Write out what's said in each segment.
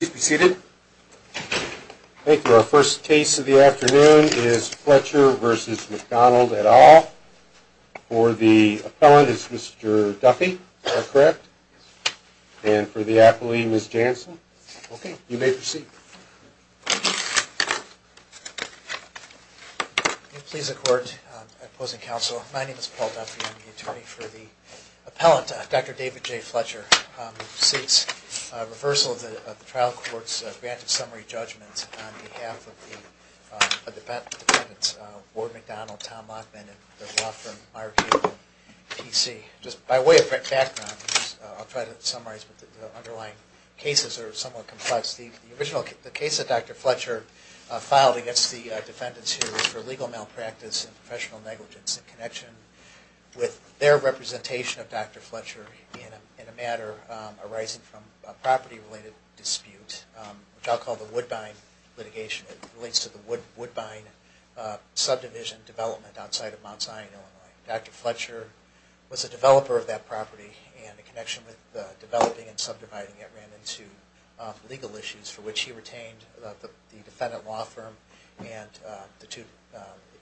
Please be seated. Thank you. Our first case of the afternoon is Fletcher v. McDonald et al. For the appellant, it's Mr. Duffy, is that correct? And for the appellee, Ms. Janssen? Okay, you may proceed. Please the court, opposing counsel, my name is Paul Duffy. I'm the attorney for the appellant, Dr. David J. Fletcher. This case seeks reversal of the trial court's granted summary judgments on behalf of the defendants Ward McDonald, Tom Lockman, and the law firm Meyer Cable, P.C. Just by way of background, I'll try to summarize, but the underlying cases are somewhat complex. The original case that Dr. Fletcher filed against the defendants here was for legal malpractice and professional negligence in connection with their representation of Dr. Fletcher in a matter arising from a property-related dispute, which I'll call the Woodbine litigation. It relates to the Woodbine subdivision development outside of Mount Zion, Illinois. Dr. Fletcher was a developer of that property, and in connection with the developing and subdividing, it ran into legal issues for which he retained the defendant law firm and the two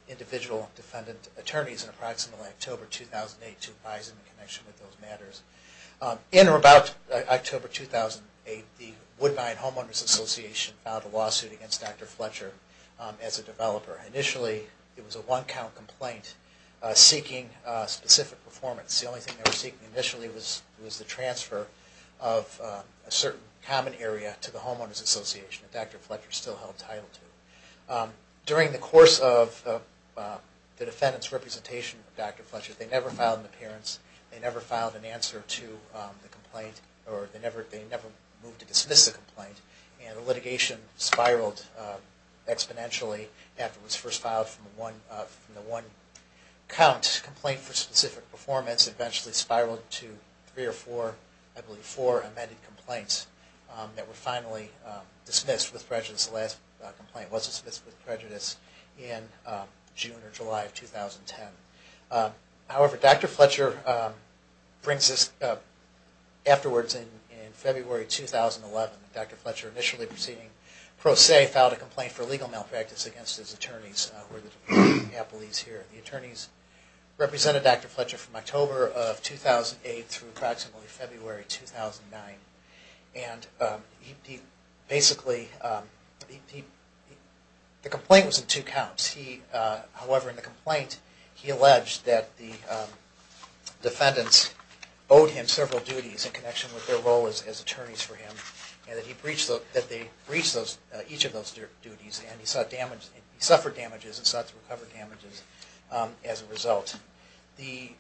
individual defendant attorneys in approximately October 2008. In or about October 2008, the Woodbine Homeowners Association filed a lawsuit against Dr. Fletcher as a developer. Initially, it was a one-count complaint seeking specific performance. The only thing they were seeking initially was the transfer of a certain common area to the Homeowners Association that Dr. Fletcher still held title to. During the course of the defendant's representation of Dr. Fletcher, they never filed an appearance, they never filed an answer to the complaint, or they never moved to dismiss the complaint. And the litigation spiraled exponentially after it was first filed from the one-count complaint for specific performance, and this eventually spiraled to three or four, I believe four, amended complaints that were finally dismissed with prejudice. The last complaint was dismissed with prejudice in June or July of 2010. However, Dr. Fletcher brings this up afterwards in February 2011. Dr. Fletcher, initially proceeding pro se, filed a complaint for legal malpractice against his attorneys, who are the Department of the Appellees here. The attorneys represented Dr. Fletcher from October of 2008 through approximately February 2009. And basically, the complaint was in two counts. However, in the complaint, he alleged that the defendants owed him several duties in connection with their role as attorneys for him, and that they breached each of those duties, and he suffered damages and sought to recover damages as a result. The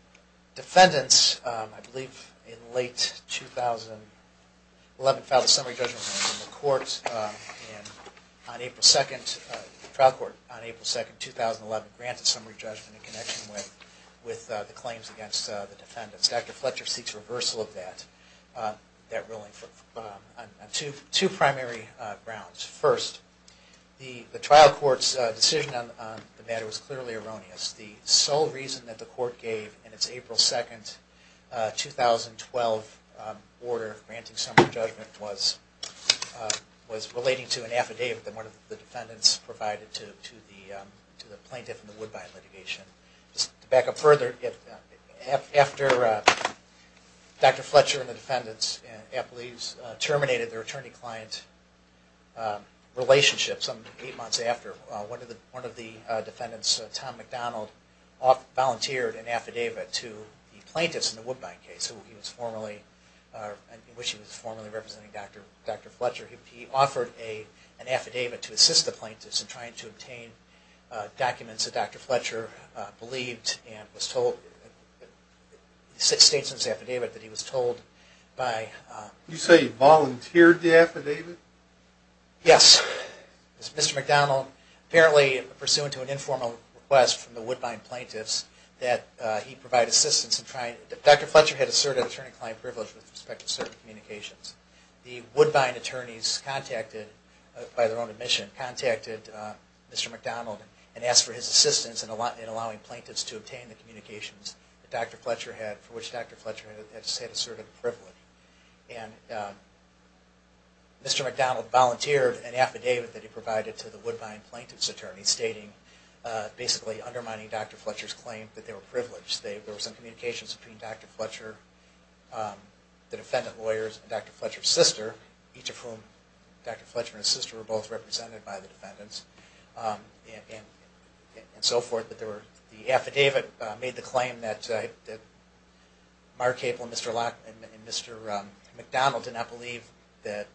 defendants, I believe in late 2011, filed a summary judgment in the trial court on April 2, 2011, granted summary judgment in connection with the claims against the defendants. Dr. Fletcher seeks reversal of that ruling on two primary grounds. First, the trial court's decision on the matter was clearly erroneous. The sole reason that the court gave in its April 2, 2012 order granting summary judgment was relating to an affidavit that one of the defendants provided to the plaintiff in the Woodbine litigation. To back up further, after Dr. Fletcher and the defendants and the appellees terminated their attorney-client relationship some eight months after, one of the defendants, Tom McDonald, volunteered an affidavit to the plaintiffs in the Woodbine case, in which he was formerly representing Dr. Fletcher. He offered an affidavit to assist the plaintiffs in trying to obtain documents that Dr. Fletcher believed and was told, he states in his affidavit that he was told by... You say he volunteered the affidavit? Yes. Mr. McDonald, apparently pursuant to an informal request from the Woodbine plaintiffs, that he provide assistance in trying... Dr. Fletcher had asserted attorney-client privilege with respect to certain communications. The Woodbine attorneys contacted, by their own admission, contacted Mr. McDonald and asked for his assistance in allowing plaintiffs to obtain the communications that Dr. Fletcher had, for which Dr. Fletcher had asserted privilege. And Mr. McDonald volunteered an affidavit that he provided to the Woodbine plaintiffs' attorneys stating, basically undermining Dr. Fletcher's claim that they were privileged. There were some communications between Dr. Fletcher, the defendant lawyers, and Dr. Fletcher's sister, each of whom, Dr. Fletcher and his sister were both represented by the defendants, and so forth. But the affidavit made the claim that Mark Cable and Mr. McDonald did not believe that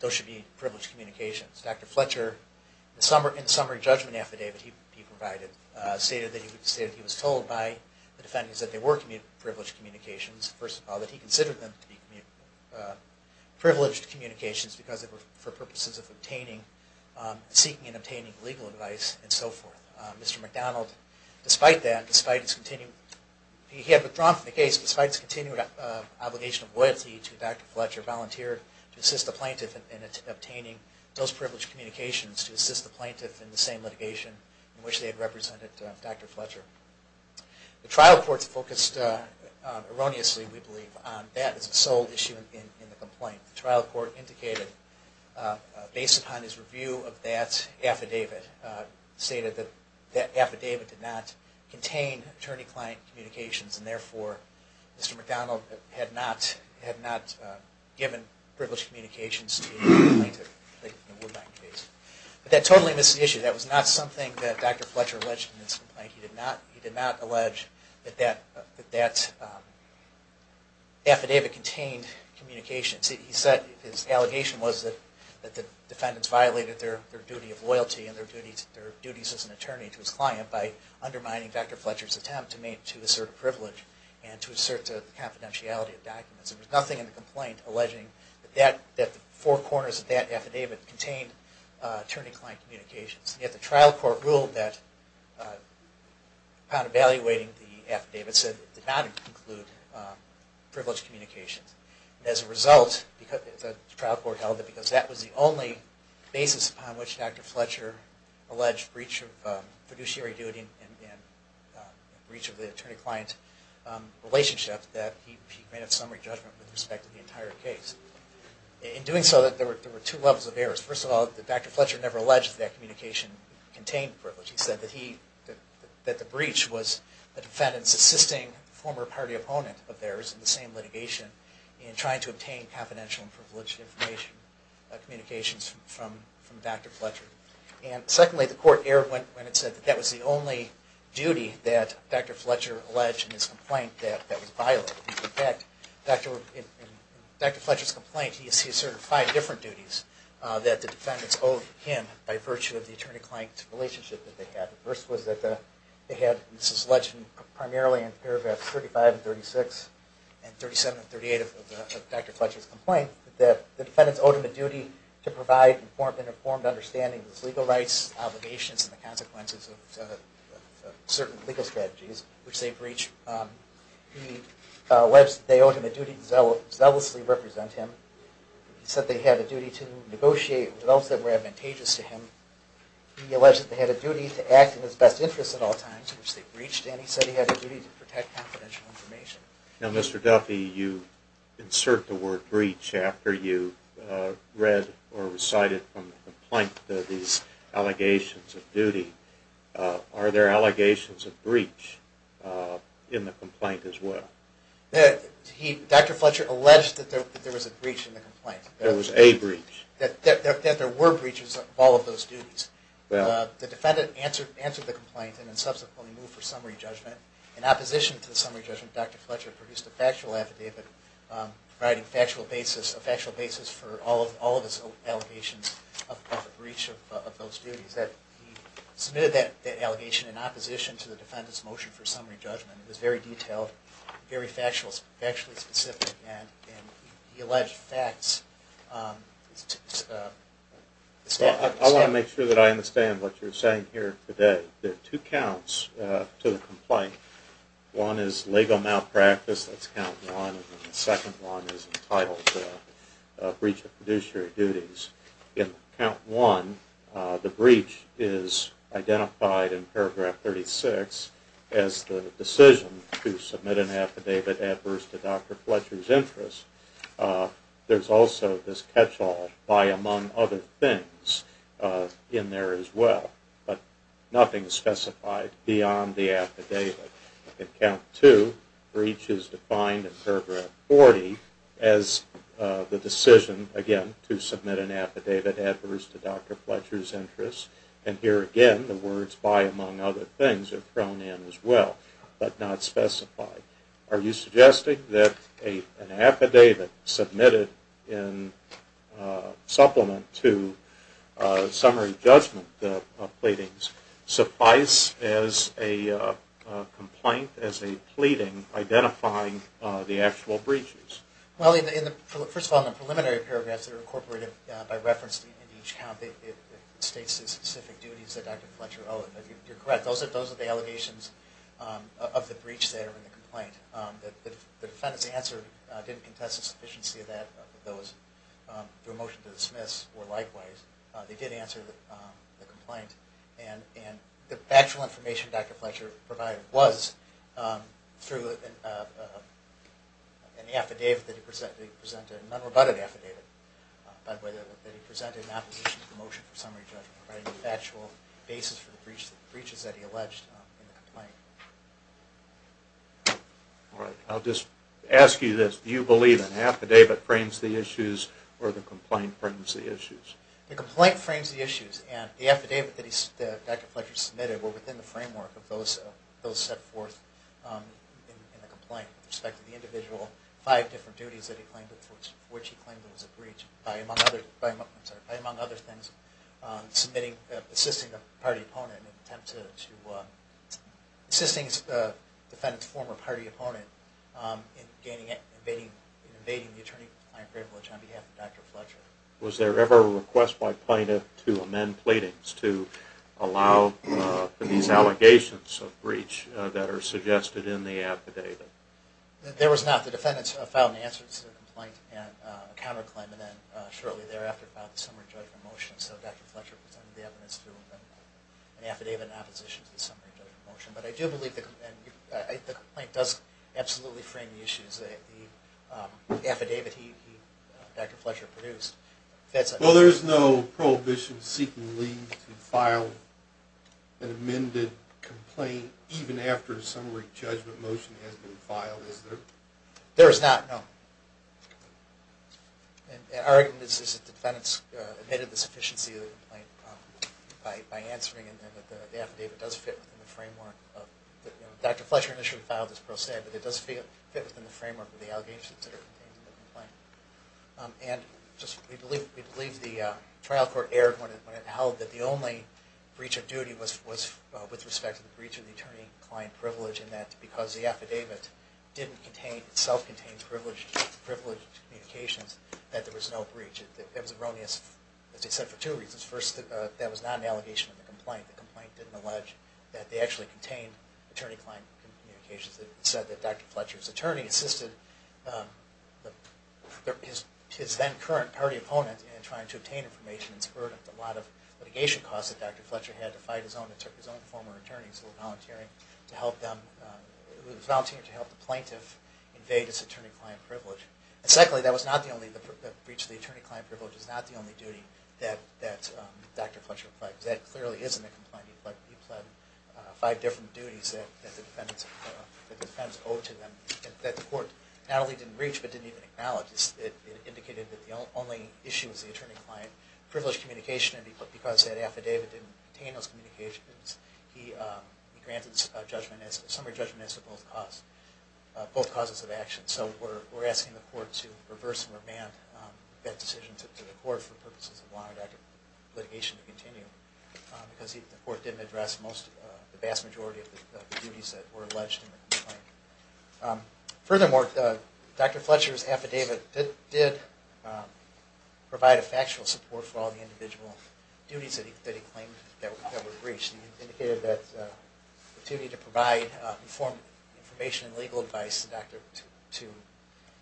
those should be privileged communications. Dr. Fletcher, in the summary judgment affidavit he provided, stated that he was told by the defendants that they were privileged communications. First of all, that he considered them to be privileged communications because they were for purposes of obtaining, seeking and obtaining legal advice, and so forth. Mr. McDonald, despite that, despite his continued, he had withdrawn from the case despite his continued obligation of loyalty to Dr. Fletcher, volunteered to assist the plaintiff in obtaining those privileged communications to assist the plaintiff in the same litigation in which they had represented Dr. Fletcher. The trial court focused erroneously, we believe, on that as the sole issue in the complaint. The trial court indicated, based upon his review of that affidavit, stated that that affidavit did not contain attorney-client communications, and therefore Mr. McDonald had not given privileged communications to the plaintiff in the Woodbine case. But that totally misses the issue. That was not something that Dr. Fletcher alleged in this complaint. He did not allege that that affidavit contained communications. He said his allegation was that the defendants violated their duty of loyalty and their duties as an attorney to his client by undermining Dr. Fletcher's attempt to assert a privilege and to assert the confidentiality of documents. There was nothing in the complaint alleging that the four corners of that affidavit contained attorney-client communications. Yet the trial court ruled that, upon evaluating the affidavit, said it did not include privileged communications. As a result, the trial court held that because that was the only basis upon which Dr. Fletcher alleged breach of fiduciary duty and breach of the attorney-client relationship, that he made a summary judgment with respect to the entire case. In doing so, there were two levels of errors. First of all, Dr. Fletcher never alleged that that communication contained privilege. He said that the breach was the defendants assisting a former party opponent of theirs in the same litigation in trying to obtain confidential and privileged information communications from Dr. Fletcher. And secondly, the court erred when it said that that was the only duty that Dr. Fletcher alleged in his complaint that was violated. In fact, in Dr. Fletcher's complaint, he asserted five different duties that the defendants owed him by virtue of the attorney-client relationship that they had. The first was that they had, this is alleged primarily in paragraphs 35 and 36 and 37 and 38 of Dr. Fletcher's complaint, that the defendants owed him a duty to provide informed understanding of his legal rights, obligations, and the consequences of certain legal strategies which they breached. He alleged that they owed him a duty to zealously represent him. He said they had a duty to negotiate with those that were advantageous to him. He alleged that they had a duty to act in his best interest at all times, which they breached, and he said he had a duty to protect confidential information. Now, Mr. Duffy, you insert the word breach after you read or recited from the complaint these allegations of duty. Are there allegations of breach in the complaint as well? Dr. Fletcher alleged that there was a breach in the complaint. There was a breach. That there were breaches of all of those duties. Well. The defendant answered the complaint and then subsequently moved for summary judgment. In opposition to the summary judgment, Dr. Fletcher produced a factual affidavit providing a factual basis for all of his allegations of the breach of those duties. He submitted that allegation in opposition to the defendant's motion for summary judgment. It was very detailed, very factually specific, and he alleged facts. I want to make sure that I understand what you're saying here today. There are two counts to the complaint. One is legal malpractice, that's count one, and the second one is entitled breach of fiduciary duties. In count one, the breach is identified in paragraph 36 as the decision to submit an affidavit adverse to Dr. Fletcher's interest. There's also this catch-all, by among other things, in there as well. But nothing is specified beyond the affidavit. In count two, the breach is defined in paragraph 40 as the decision, again, to submit an affidavit adverse to Dr. Fletcher's interest. And here again, the words by among other things are thrown in as well, but not specified. Are you suggesting that an affidavit submitted in supplement to summary judgment of pleadings suffice as a complaint, as a pleading, identifying the actual breaches? Well, first of all, in the preliminary paragraphs that are incorporated by reference in each count, it states the specific duties that Dr. Fletcher owed. You're correct, those are the allegations of the breach that are in the complaint. The defendant's answer didn't contest the sufficiency of those through a motion to dismiss, or likewise. They did answer the complaint, and the factual information Dr. Fletcher provided was through an affidavit that he presented, a non-rebutted affidavit, by the way, that he presented in opposition to the motion for summary judgment, providing the factual basis for the breaches that he alleged in the complaint. All right, I'll just ask you this. Do you believe an affidavit frames the issues, or the complaint frames the issues? The complaint frames the issues, and the affidavit that Dr. Fletcher submitted were within the framework of those set forth in the complaint, with respect to the individual five different duties for which he claimed it was a breach, by among other things, assisting the defendant's former party opponent in invading the attorney-compliant privilege on behalf of Dr. Fletcher. Was there ever a request by plaintiff to amend pleadings to allow for these allegations of breach that are suggested in the affidavit? There was not. The defendant filed an answer to the complaint and a counterclaim, and then shortly thereafter filed a summary judgment motion. So Dr. Fletcher presented the evidence through an affidavit in opposition to the summary judgment motion. But I do believe the complaint does absolutely frame the issues. The affidavit that Dr. Fletcher produced fits. Well, there is no prohibition seeking leave to file an amended complaint even after a summary judgment motion has been filed, is there? There is not, no. Our argument is that the defendant's admitted the sufficiency of the complaint by answering it, and that the affidavit does fit within the framework. Dr. Fletcher initially filed this pro se, but it does fit within the framework of the allegations that are contained in the complaint. And we believe the trial court erred when it held that the only breach of duty was with respect to the breach of the attorney-client privilege, and that because the affidavit itself contained privileged communications, that there was no breach. That was erroneous, as I said, for two reasons. First, that was not an allegation in the complaint. The complaint didn't allege that they actually contained attorney-client communications. It said that Dr. Fletcher's attorney assisted his then current party opponent in trying to obtain information and spurred a lot of litigation costs that Dr. Fletcher had to fight his own former attorneys who were volunteering to help the plaintiff invade his attorney-client privilege. And secondly, the breach of the attorney-client privilege is not the only duty that Dr. Fletcher pledged. That clearly is in the complaint. He pled five different duties that the defendants owed to them that the court not only didn't reach, but didn't even acknowledge. It indicated that the only issue was the attorney-client privileged communication and because that affidavit didn't contain those communications, he granted a summary judgment as to both causes of action. So we're asking the court to reverse and remand that decision to the court for purposes of longer litigation to continue because the court didn't address the vast majority of the duties that were alleged in the complaint. Furthermore, Dr. Fletcher's affidavit did provide a factual support for all the individual duties that he claimed that were breached. It indicated that the duty to provide informed information and legal advice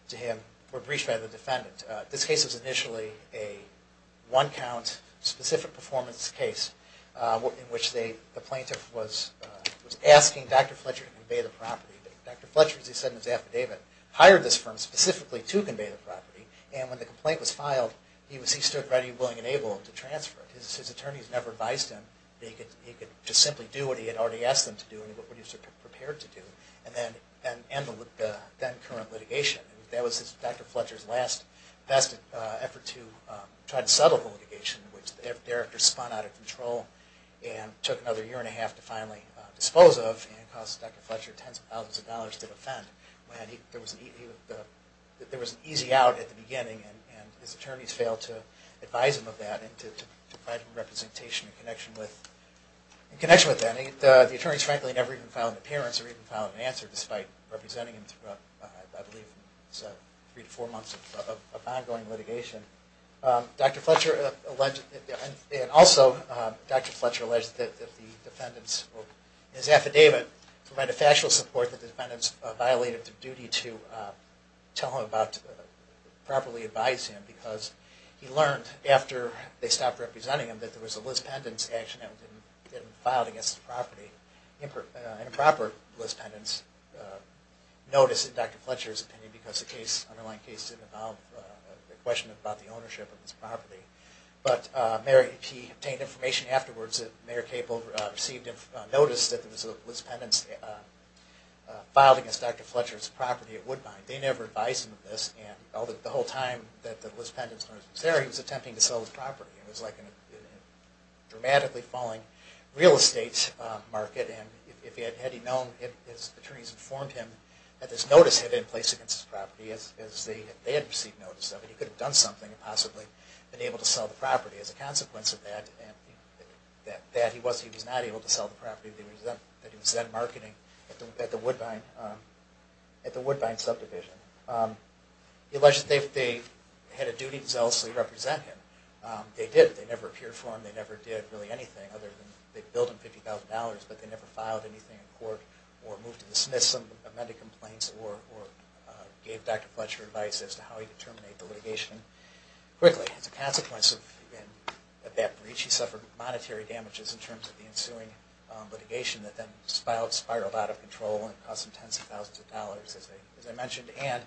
to him were breached by the defendant. This case was initially a one-count specific performance case in which the plaintiff was asking Dr. Fletcher to convey the property. Dr. Fletcher, as he said in his affidavit, hired this firm specifically to convey the property and when the complaint was filed, he stood ready, willing, and able to transfer it. His attorneys never advised him that he could just simply do what he had already asked him to do and what he was prepared to do and end the then current litigation. That was Dr. Fletcher's last best effort to try to settle the litigation which Derek had spun out of control and took another year and a half to finally dispose of and cost Dr. Fletcher tens of thousands of dollars to defend. There was an easy out at the beginning and his attorneys failed to advise him of that and to provide him representation in connection with that. The attorneys frankly never even filed an appearance or even filed an answer despite representing him throughout, I believe, three to four months of ongoing litigation. Also, Dr. Fletcher alleged that the defendant's affidavit provided factual support and that the defendants violated their duty to tell him about, properly advise him because he learned after they stopped representing him that there was a Liz Pendence action that was filed against the property. An improper Liz Pendence notice in Dr. Fletcher's opinion because the underlying case didn't involve a question about the ownership of this property. But he obtained information afterwards that Mayor Cable received a notice that there was a Liz Pendence filed against Dr. Fletcher's property at Woodbine. They never advised him of this and the whole time that the Liz Pendence notice was there he was attempting to sell his property. It was like a dramatically falling real estate market and had he known if his attorneys informed him that this notice had been placed against his property as they had received notice of it, he could have done something and possibly been able to sell the property. As a consequence of that, he was not able to sell the property that he was then marketing at the Woodbine subdivision. He alleged that they had a duty to zealously represent him. They did. They never appeared for him. They never did really anything other than they billed him $50,000 but they never filed anything in court or moved to dismiss some of the amended complaints or gave Dr. Fletcher advice as to how he could terminate the litigation quickly. As a consequence of that breach, he suffered monetary damages in terms of the ensuing litigation that then spiraled out of control and cost him tens of thousands of dollars, as I mentioned. And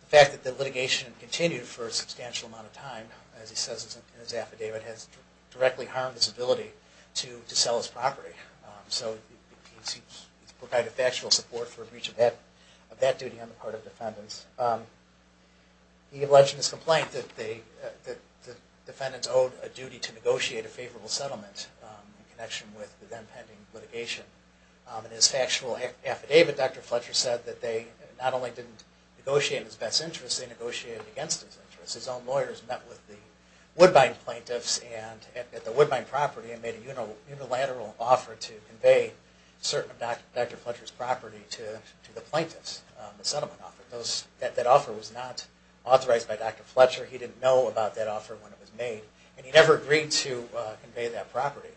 the fact that the litigation continued for a substantial amount of time as he says in his affidavit, has directly harmed his ability to sell his property. So he's provided factual support for breach of that duty on the part of defendants. He alleged in his complaint that the defendants owed a duty to negotiate a favorable settlement in connection with the then pending litigation. In his factual affidavit, Dr. Fletcher said that they not only didn't negotiate in his best interest, they negotiated against his interest. His own lawyers met with the Woodbine plaintiffs at the Woodbine property and made a unilateral offer to convey certain of Dr. Fletcher's property to the plaintiffs on the settlement offer. That offer was not authorized by Dr. Fletcher. He didn't know about that offer when it was made. And he never agreed to convey that property.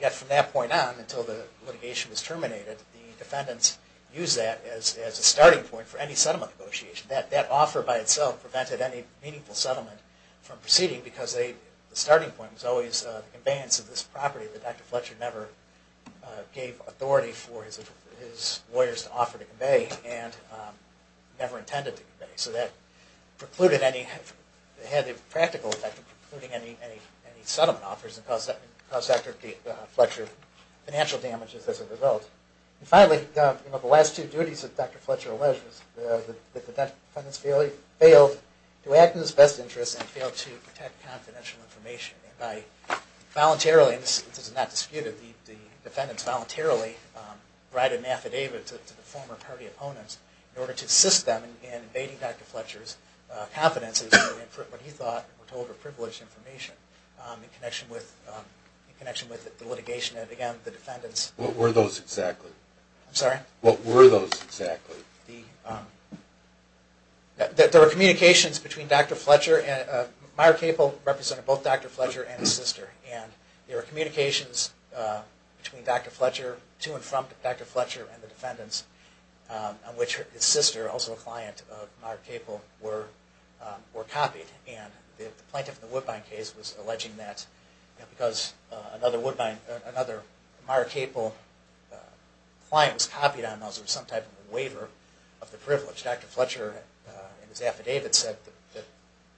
Yet from that point on, until the litigation was terminated, the defendants used that as a starting point for any settlement negotiation. That offer by itself prevented any meaningful settlement from proceeding because the starting point was always the conveyance of this property that Dr. Fletcher never gave authority for his lawyers to offer to convey and never intended to convey. So that had the practical effect of precluding any settlement offers and caused Dr. Fletcher financial damages as a result. Finally, the last two duties that Dr. Fletcher alleged were that the defendants failed to act in his best interest and failed to protect confidential information. Voluntarily, and this is not disputed, the defendants voluntarily provided an affidavit to the former party opponents in order to assist them in invading Dr. Fletcher's confidences for what he thought were told were privileged information in connection with the litigation. And again, the defendants... What were those exactly? I'm sorry? What were those exactly? There were communications between Dr. Fletcher and... Meyer Capel represented both Dr. Fletcher and his sister and there were communications between Dr. Fletcher, to and from Dr. Fletcher and the defendants on which his sister, also a client of Meyer Capel, were copied. And the plaintiff in the Woodbine case was alleging that because another Meyer Capel client was copied on those with some type of a waiver of the privilege. Dr. Fletcher in his affidavit said that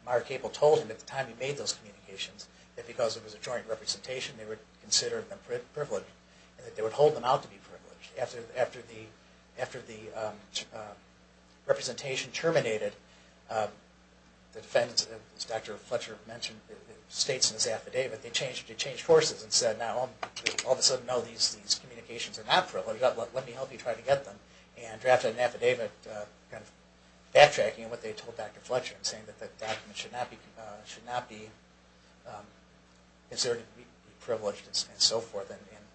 Meyer Capel told him at the time he made those communications that because it was a joint representation, they were considered privileged and that they would hold them out to be privileged. After the representation terminated, the defendants, as Dr. Fletcher states in his affidavit, they changed courses and said, all of a sudden, no, these communications are not privileged, let me help you try to get them. And drafted an affidavit backtracking on what they told Dr. Fletcher saying that the documents should not be considered privileged and so forth.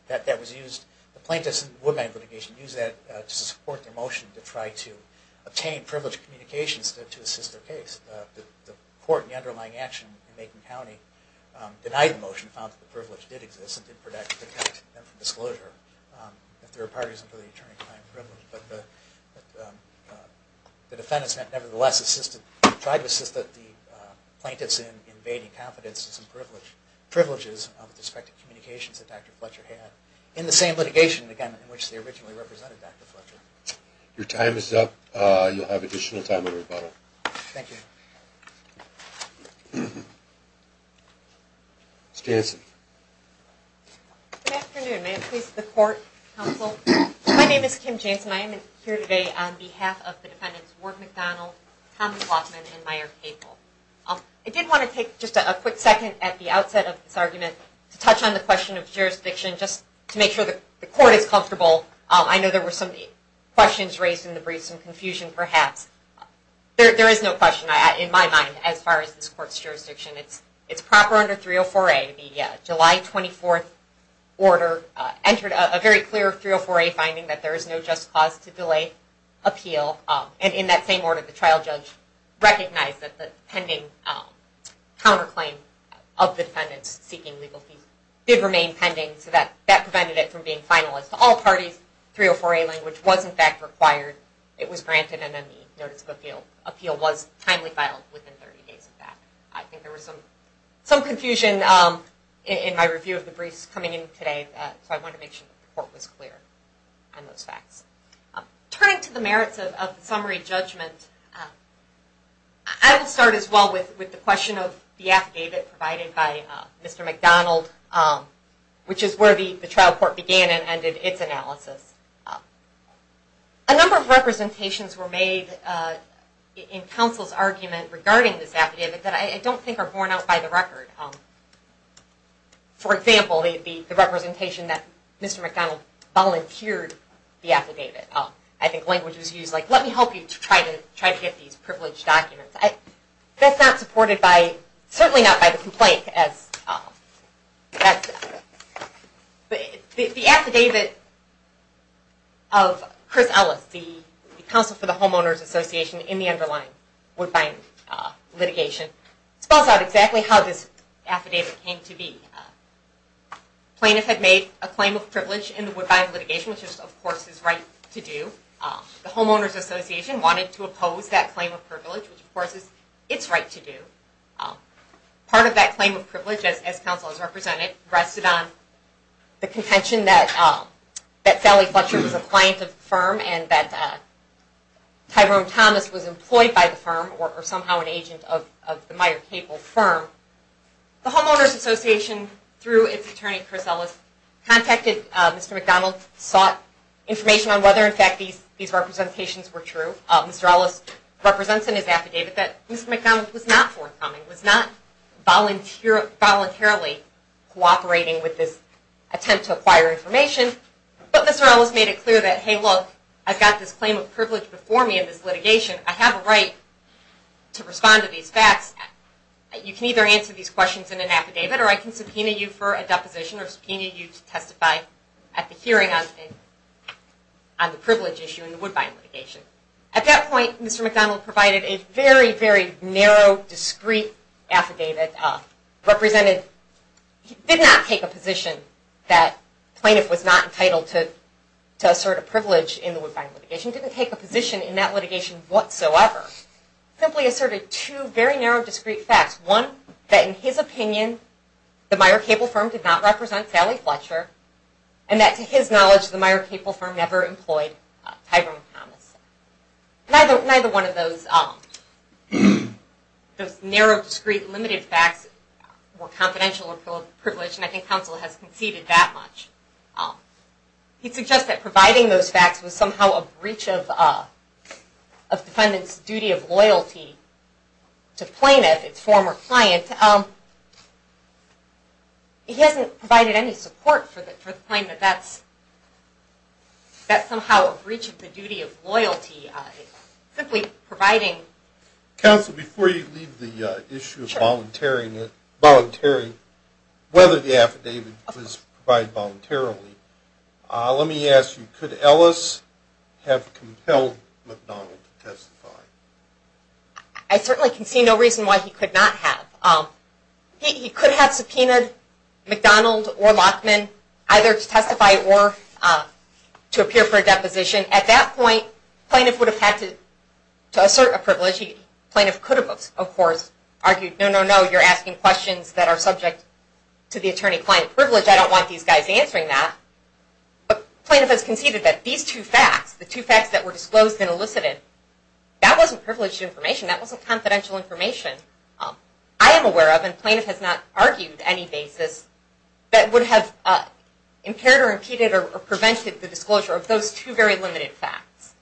The plaintiffs in the Woodbine litigation used that to support their motion to try to obtain privileged communications to assist their case. The court in the underlying action in Macon County denied the motion, found that the privilege did exist and did protect them from disclosure if there were parties under the attorney-client privilege. But the defendants nevertheless tried to assist the plaintiffs in invading confidence in some privileges with respect to communications that Dr. Fletcher had in the same litigation, again, in which they originally represented Dr. Fletcher. Your time is up. You'll have additional time in rebuttal. Thank you. Ms. Jansen. Good afternoon. May it please the court, counsel. My name is Kim Jansen. I am here today on behalf of the defendants Ward McDonald, Thomas Lockman, and Meyer Papel. I did want to take just a quick second at the outset of this argument to touch on the question of jurisdiction just to make sure the court is comfortable. I know there were some questions raised in the brief, some confusion perhaps. There is no question in my mind as far as this court's jurisdiction. It's proper under 304A, the July 24th order entered a very clear 304A finding that there is no just cause to delay appeal. In that same order, the trial judge recognized that the pending counterclaim of the defendants seeking legal fees did remain pending, so that prevented it from being finalized to all parties. 304A language was in fact required. It was granted, and then the notice of appeal was timely filed within 30 days of that. I think there was some confusion in my review of the briefs coming in today, so I wanted to make sure the court was clear on those facts. Turning to the merits of the summary judgment, I will start as well with the question of the affidavit provided by Mr. McDonald, which is where the trial court began and ended its analysis. A number of representations were made in counsel's argument regarding this affidavit that I don't think are borne out by the record. For example, the representation that Mr. McDonald volunteered the affidavit. I think language was used like, let me help you try to get these privileged documents. That's not supported by, certainly not by the complaint as the affidavit of Chris Ellis, the counsel for the Homeowners Association in the underlying Woodbine litigation. Spells out exactly how this affidavit came to be. Plaintiff had made a claim of privilege in the Woodbine litigation, which is of course his right to do. The Homeowners Association wanted to oppose that claim of privilege, which of course is its right to do. Part of that claim of privilege as counsel has represented, rested on the contention that Sally Fletcher was a client of the firm and that Tyrone Thomas was employed by the firm or somehow an agent of the Meyer Cable firm. The Homeowners Association, through its attorney Chris Ellis, contacted Mr. McDonald, sought information on whether in fact these representations were true. Mr. Ellis represents in his affidavit that Mr. McDonald was not forthcoming, was not voluntarily cooperating with this attempt to acquire information. But Mr. Ellis made it clear that, hey look, I've got this claim of privilege before me in this litigation. I have a right to respond to these facts. You can either answer these questions in an affidavit or I can subpoena you for a deposition or subpoena you to testify at the hearing on the privilege issue in the Woodbine litigation. At that point, Mr. McDonald provided a very, very narrow discreet affidavit representing he did not take a position that plaintiff was not entitled to in the Woodbine litigation, didn't take a position in that litigation whatsoever. Simply asserted two very narrow discreet facts. One, that in his opinion the Meyer Cable firm did not represent Sally Fletcher and that to his knowledge the Meyer Cable firm never employed Tyrone Thompson. Neither one of those narrow, discreet, limited facts were confidential or privileged and I think counsel has conceded that much. He suggested that providing those facts was somehow a breach of defendant's duty of loyalty to plaintiff, its former client. He hasn't provided any support for the point that that's somehow a breach of the duty of loyalty simply providing Counsel, before you leave the issue of volunteering whether the affidavit was provided voluntarily let me ask you, could Ellis have compelled McDonald to testify? I certainly can see no reason why he could not have. He could have subpoenaed McDonald or Lachman either to testify or to appear for a deposition. At that point, plaintiff would have had to assert a privilege. Plaintiff could have of course argued no, no, no, you're asking questions that are subject to the attorney-client privilege. I don't want these guys answering that. Plaintiff has conceded that these two facts the two facts that were disclosed and elicited that wasn't privileged information that wasn't confidential information I am aware of and plaintiff has not argued any basis that would have impaired or impeded or prevented the disclosure of those two very limited facts.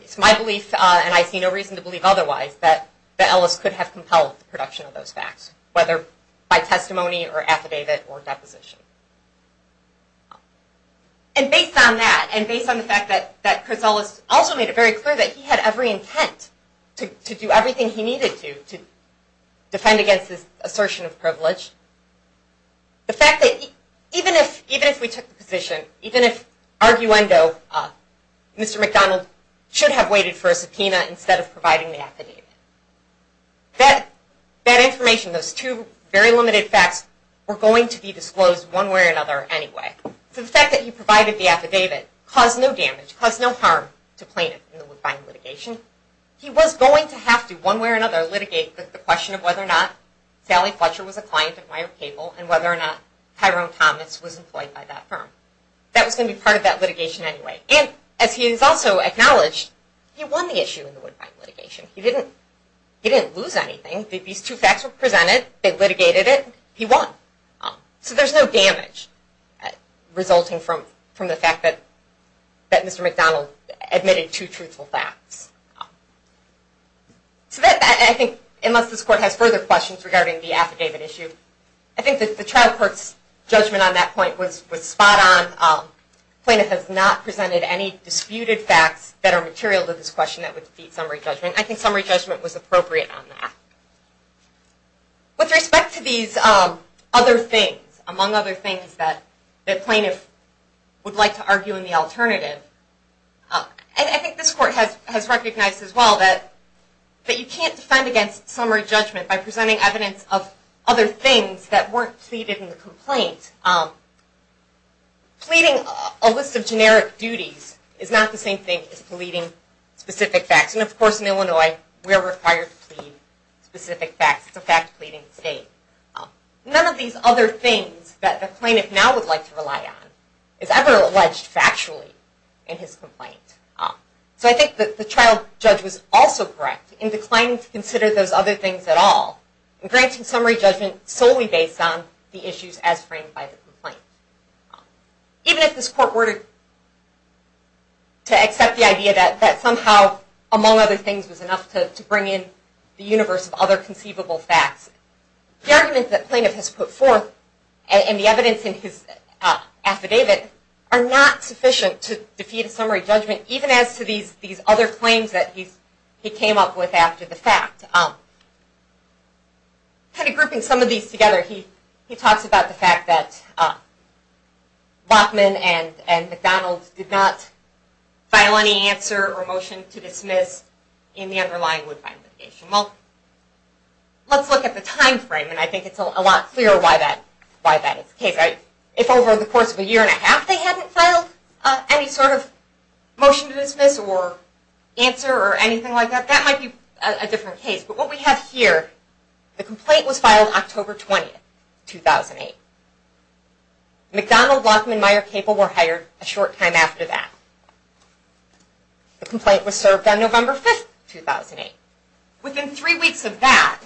It's my belief and I see no reason to believe otherwise that Ellis could have compelled the production of those facts whether by testimony or affidavit or deposition. Based on that and based on the fact that Chris Ellis also made it very clear that he had every intent to do everything he needed to defend against this assertion of privilege the fact that even if we took the position, even if arguendo, Mr. McDonald should have waited for a subpoena instead of providing the affidavit. That information those two very limited facts were going to be disclosed one way or another anyway. The fact that he provided the affidavit caused no damage caused no harm to plaintiff in the litigation. He was going to have to one way or another litigate the question of whether or not Sally Fletcher was a client of Mayer Cable and whether or not Tyrone Thomas was employed by that firm. That was going to be part of that litigation anyway and as he has also acknowledged, he won the issue in the litigation. He didn't lose anything. These two facts were presented they litigated it. He won. So there's no damage resulting from the fact that Mr. McDonald admitted two truthful facts. I think unless this court has further questions regarding the affidavit issue I think that the trial court's judgment on that point was spot on. Plaintiff has not presented any disputed facts that are material to this question that would defeat summary judgment. I think summary judgment was appropriate on that. With respect to these other things among other things that plaintiff would like to argue in the alternative I think this court has recognized as well that you can't defend against summary judgment by presenting evidence of other things that weren't pleaded in the complaint. Pleading a list of generic duties is not the same thing as pleading specific facts and of course in Illinois we are required to plead specific facts. It's a fact pleading state. None of these other things that the plaintiff now would like to rely on is ever alleged factually in his complaint. So I think that the trial judge was also correct in declining to consider those other things at all and granting summary judgment solely based on the issues as framed by the complaint. Even if this court were to accept the idea that somehow among other things was enough to bring in the universe of other conceivable facts, the argument that plaintiff has put forth and the evidence in his affidavit are not sufficient to defeat a summary judgment even as to these other claims that he came up with after the fact. Kind of grouping some of these together he talks about the fact that Bachman and McDonald did not file any answer or motion to dismiss in the underlying would find litigation. Let's look at the time frame and I think it's a lot clearer why that is the case. If over the course of a year and a half they hadn't filed any sort of motion to dismiss or answer or anything like that, that might be a different case. But what we have here the complaint was filed October 20th, 2008. McDonald, Bachman, Meyer, Capel were hired a short time after that. The complaint was served on November 5th 2008. Within three weeks of that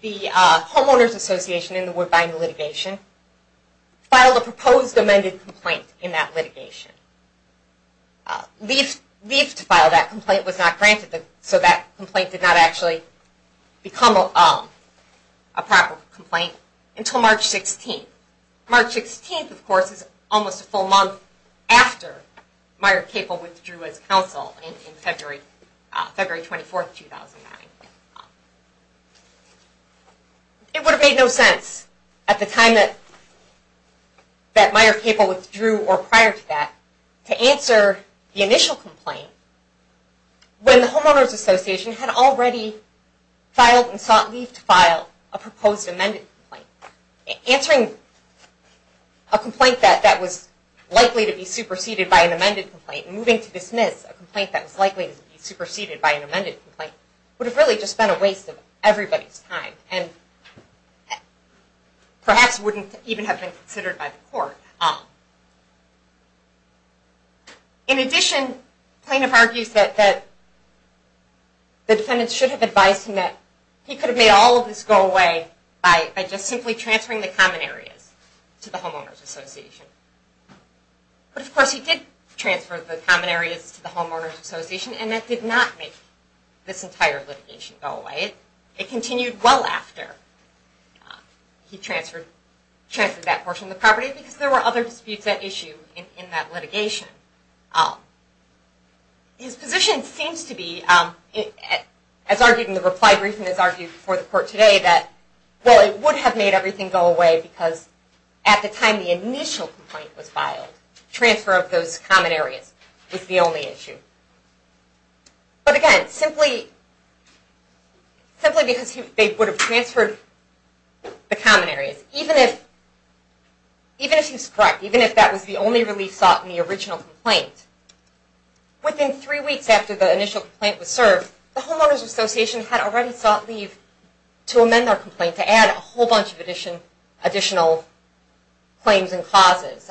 the Homeowners Association in the would find litigation filed a proposed amended complaint in that litigation. Leaf to file that complaint was not granted so that complaint did not actually become a proper complaint until March 16th. March 16th, of course, is almost a full month after Meyer, Capel withdrew as counsel in February 24th, 2009. It would have made no sense at the time that Meyer, Capel withdrew or prior to that to answer the initial complaint when the Homeowners Association had already filed and sought Leaf to file a proposed amended complaint. Answering a complaint that was likely to be superseded by an amended complaint and moving to dismiss a complaint that was likely to be superseded by an amended complaint would have really just been a waste of everybody's time and perhaps wouldn't even have been considered by the court. In addition, Plaintiff argues that the defendant should have advised him that he could have made all of this go away by just simply transferring the common areas to the Homeowners Association. But of course he did transfer the common areas to the Homeowners Association and that did not make this entire litigation go away. It continued well after he transferred that portion of the property because there were other disputes at issue in that litigation. His position seems to be as argued in the reply briefing as argued before the court today that it would have made everything go away because at the time the initial complaint was filed, transfer of those common areas was the only issue. But again, simply because they would have transferred the common areas even if he's correct, even if that was the only relief sought in the original complaint, within three weeks after the initial complaint was served, the Homeowners Association had already sought leave to amend their complaint to add a whole bunch of additional claims and clauses.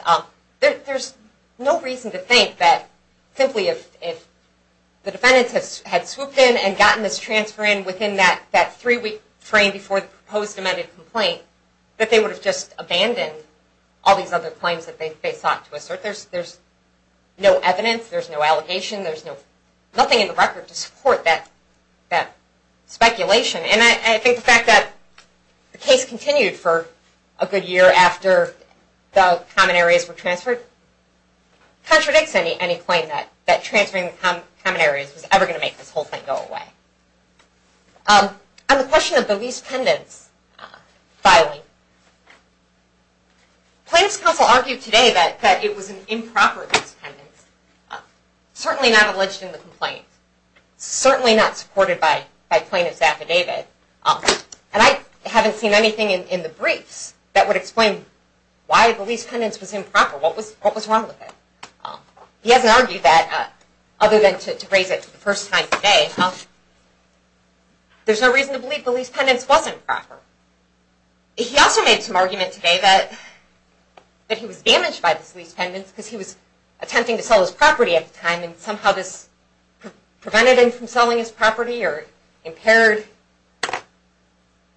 There's no reason to think that simply if the defendants had swooped in and gotten this transfer in within that three week frame before the proposed amended complaint that they would have just abandoned all these other claims that they sought to assert. There's no evidence, there's no allegation, nothing in the record to support that speculation. I think the fact that the case continued for a good year after the common areas were transferred contradicts any claim that transferring the common areas was ever going to make this whole thing go away. On the question of the lease pendants filing, plaintiff's counsel argued today that it was an improper lease pendants, certainly not alleged in the complaint, certainly not supported by plaintiff's affidavit, and I haven't seen anything in the briefs that would explain why the lease pendants was improper, what was wrong with it. He hasn't argued that other than to raise it for the first time today. There's no reason to believe the lease pendants wasn't proper. He also made some argument today that he was damaged by the lease pendants because he was attempting to sell his property at the time and somehow this prevented him from selling his property or impaired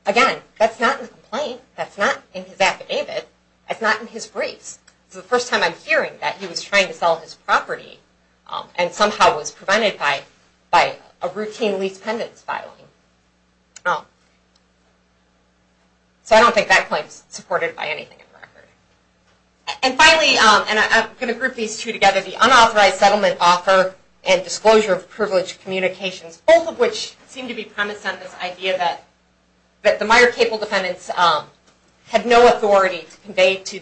Again, that's not in the complaint, that's not in his affidavit, that's not in his briefs. It's the first time I'm hearing that he was trying to sell his property and somehow was prevented by a routine lease pendants filing. So, I don't think that claim is supported by anything in the record. And finally, and I'm going to group these two together, the unauthorized settlement offer and disclosure of privileged communications, both of which seem to be premise on this idea that the Meyer Cable defendants had no authority to convey to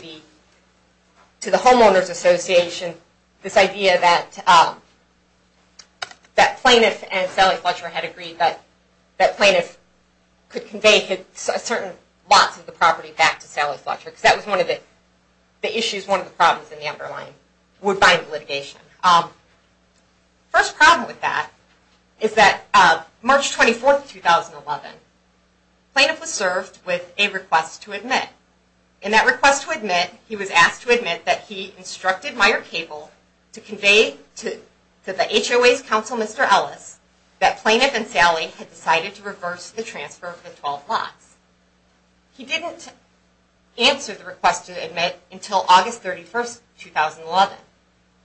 the homeowners Association this idea that plaintiff and Sally Fletcher had agreed that plaintiff could convey certain lots of the property back to Sally Fletcher because that was one of the issues, one of the problems in the underlying litigation. First problem with that is that March 24th, 2011, plaintiff was served with a request to admit. In that request to admit, he was asked to admit that he instructed Meyer Cable to convey to the HOA's counsel, Mr. Ellis, that plaintiff and Sally had decided to reverse the transfer of the 12 lots. He didn't answer the request to admit until August 31st, 2011.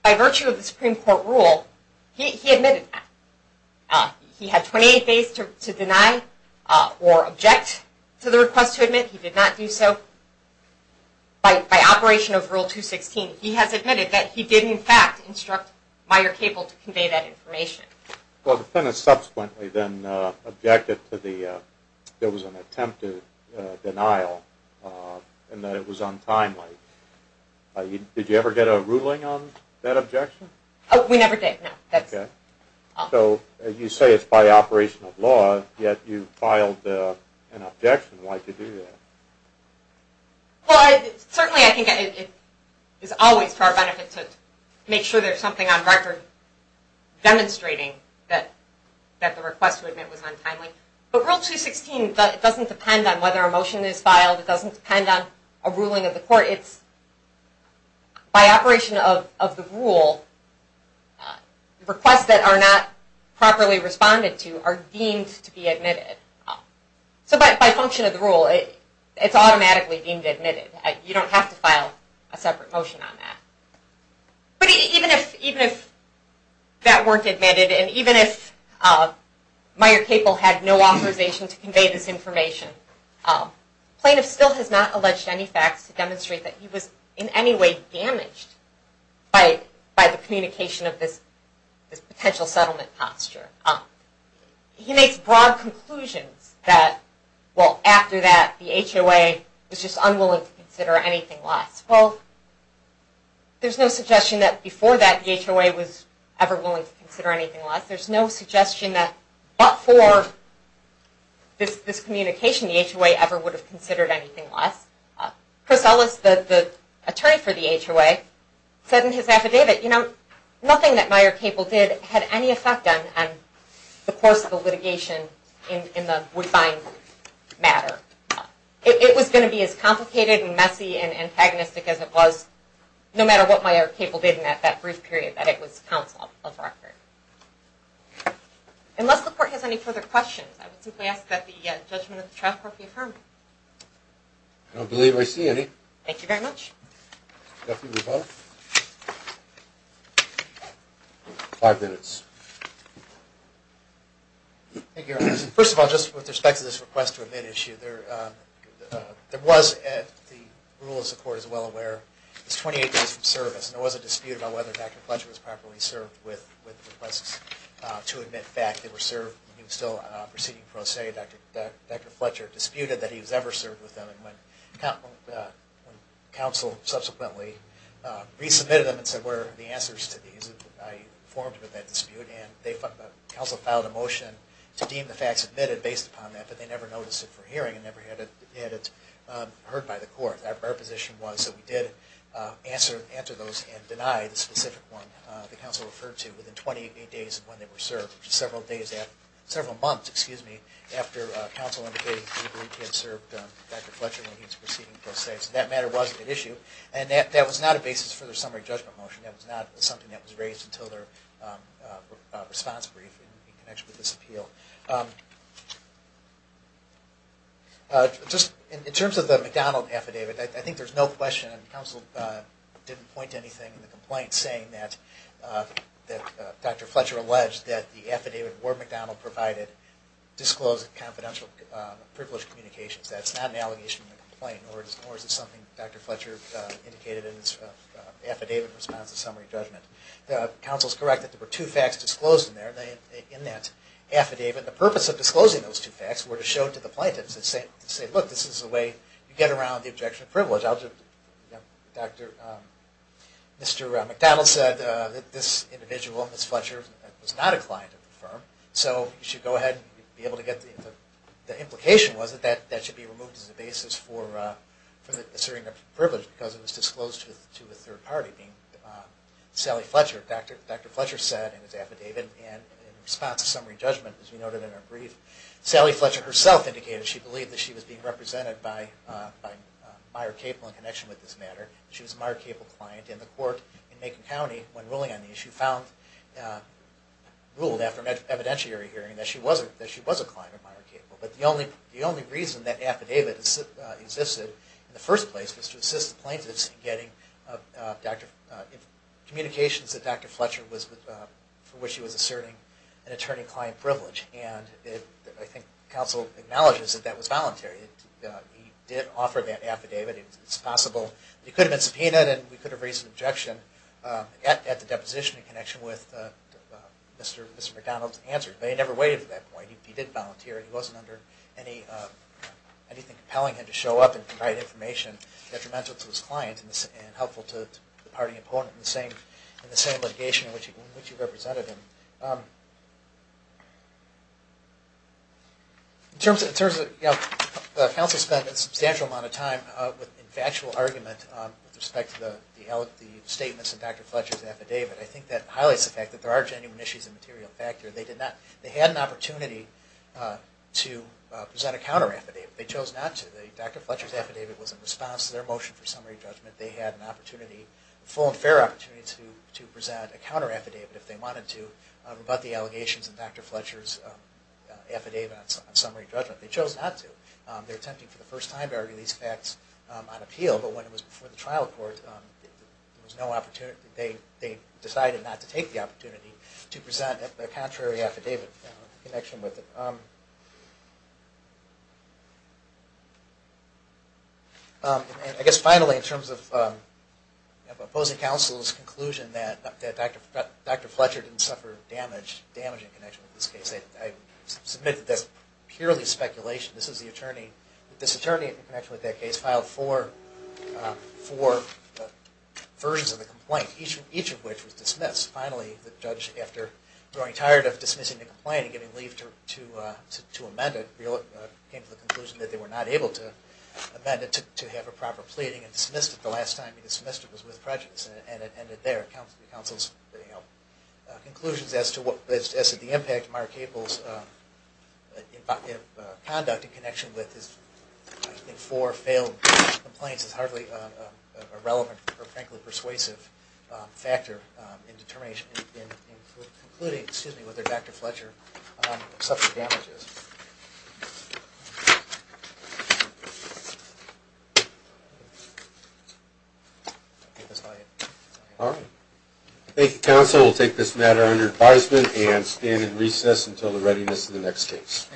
By virtue of the Supreme Court rule, he admitted that. He had 28 days to deny or object to the request to admit. He did not do so. By operation of Rule 216, he has admitted that he did in fact instruct Meyer Cable to convey that information. The plaintiff subsequently then objected to the attempt to denial and that it was untimely. Did you ever get a ruling on that objection? We never did, no. You say it's by operation of law, yet you filed an objection. Why did you do that? Certainly, I think it's always for our benefit to make sure there's something on record demonstrating that the request to admit was untimely. But Rule 216 doesn't depend on whether a motion is filed. It doesn't depend on a ruling of the court. It's by operation of the rule requests that are not properly responded to are deemed to be admitted. So by function of the rule it's automatically deemed admitted. You don't have to file a separate motion on that. But even if that weren't admitted and even if Meyer Cable had no authorization to convey this information, plaintiff still has not alleged any facts to demonstrate that he was in any way damaged by the communication of this potential settlement posture. He makes broad conclusions that after that the HOA was just unwilling to consider anything less. Well, there's no suggestion that before that the HOA was ever willing to consider anything less. There's no suggestion that but for this communication the HOA ever would have considered anything less. Chris Ellis, the attorney for the HOA, said in his affidavit that nothing that Meyer Cable did had any effect on the course of the litigation in the Woodbine matter. It was going to be as complicated and messy and antagonistic as it was no matter what Meyer Cable did in that brief period that it was counsel of record. Unless the court has any further questions, I would simply ask that the judgment of the trial court be affirmed. I don't believe I see any. Thank you very much. Duffy, we vote. Five minutes. Thank you, Your Honor. First of all, just with respect to this request to admit issue, there was the rule, as the court is well aware, was 28 days from service and there was a dispute about whether Dr. Fletcher was properly served with requests to admit fact that were served when he was still proceeding pro se. Dr. Fletcher disputed that he was ever served with them and when counsel subsequently resubmitted them and said, these were the answers to these that I formed with that dispute and counsel filed a motion to deem the facts admitted based upon that but they never noticed it for hearing and never had it heard by the court. Our position was that we did answer those and deny the specific one that counsel referred to within 28 days of when they were served several months after counsel indicated that he had served Dr. Fletcher when he was proceeding pro se. That matter wasn't an issue and that was not a basis for the summary judgment motion that was not something that was raised until their response brief in connection with this appeal. In terms of the McDonald affidavit, I think there's no question that counsel didn't point to anything in the complaint saying that Dr. Fletcher alleged that the affidavit Ward-McDonald provided disclosed confidential privileged communications. That's not an allegation in the complaint nor is it something Dr. Fletcher indicated in his affidavit response to summary judgment. Counsel's correct that there were two facts disclosed in that affidavit. The purpose of disclosing those two facts were to show to the plaintiffs that this is the way you get around the objection of privilege. Mr. McDonald said that this individual, Ms. Fletcher, was not a client of the firm so you should go ahead and be able to get The implication was that that should be removed as a basis for asserting a privilege because it was disclosed to a third party being Sally Fletcher. Dr. Fletcher said in his affidavit and in response to summary judgment as we noted in our brief, Sally Fletcher herself indicated she believed that she was being represented by Meyer Cable in connection with this matter. She was a Meyer Cable client and the court in Macon County when ruling on the issue ruled after an evidentiary hearing that she was a client of Meyer Cable. The only reason that affidavit existed in the first place was to assist the plaintiffs in getting communications that Dr. Fletcher was for which he was asserting an attorney-client privilege and I think counsel acknowledges that that was voluntary. He did offer that affidavit. It's possible it could have been subpoenaed and we could have raised an objection at the deposition in connection with what Mr. McDonald answered but he never waited for that point. He did volunteer and he wasn't under anything compelling him to show up and provide information detrimental to his client and helpful to the party opponent in the same litigation in which he represented him. In terms of counsel spent a substantial amount of time with factual argument with respect to the statements in Dr. Fletcher's affidavit. I think that highlights the fact that there are genuine issues of material factor. They had an opportunity to present a counter affidavit. Dr. Fletcher's affidavit was in response to their motion for summary judgment. They had a full and fair opportunity to present a counter affidavit if they wanted to rebut the allegations in Dr. Fletcher's affidavit on summary judgment. They chose not to. They were attempting for the first time to argue these facts on appeal but when it was before the trial court there was no opportunity. They decided not to take the opportunity to present a contrary affidavit in connection with it. I guess finally in terms of opposing counsel's conclusion that Dr. Fletcher didn't suffer damage in connection with this case I submit that that's purely speculation. This attorney in connection with that case filed four versions of the complaint each of which was dismissed. Finally the judge after growing tired of dismissing the complaint and giving leave to amend it came to the conclusion that they were not able to amend it to have a proper pleading and dismissed it the last time he dismissed it was with prejudice and it ended there. Those are the counsel's conclusions as to the impact of Meyer Cable's conduct in connection with his four failed complaints is hardly a relevant or frankly persuasive factor in concluding whether Dr. Fletcher suffered damages. Thank you counsel. We'll take this matter under advisement and stand in recess until the readiness of the next case.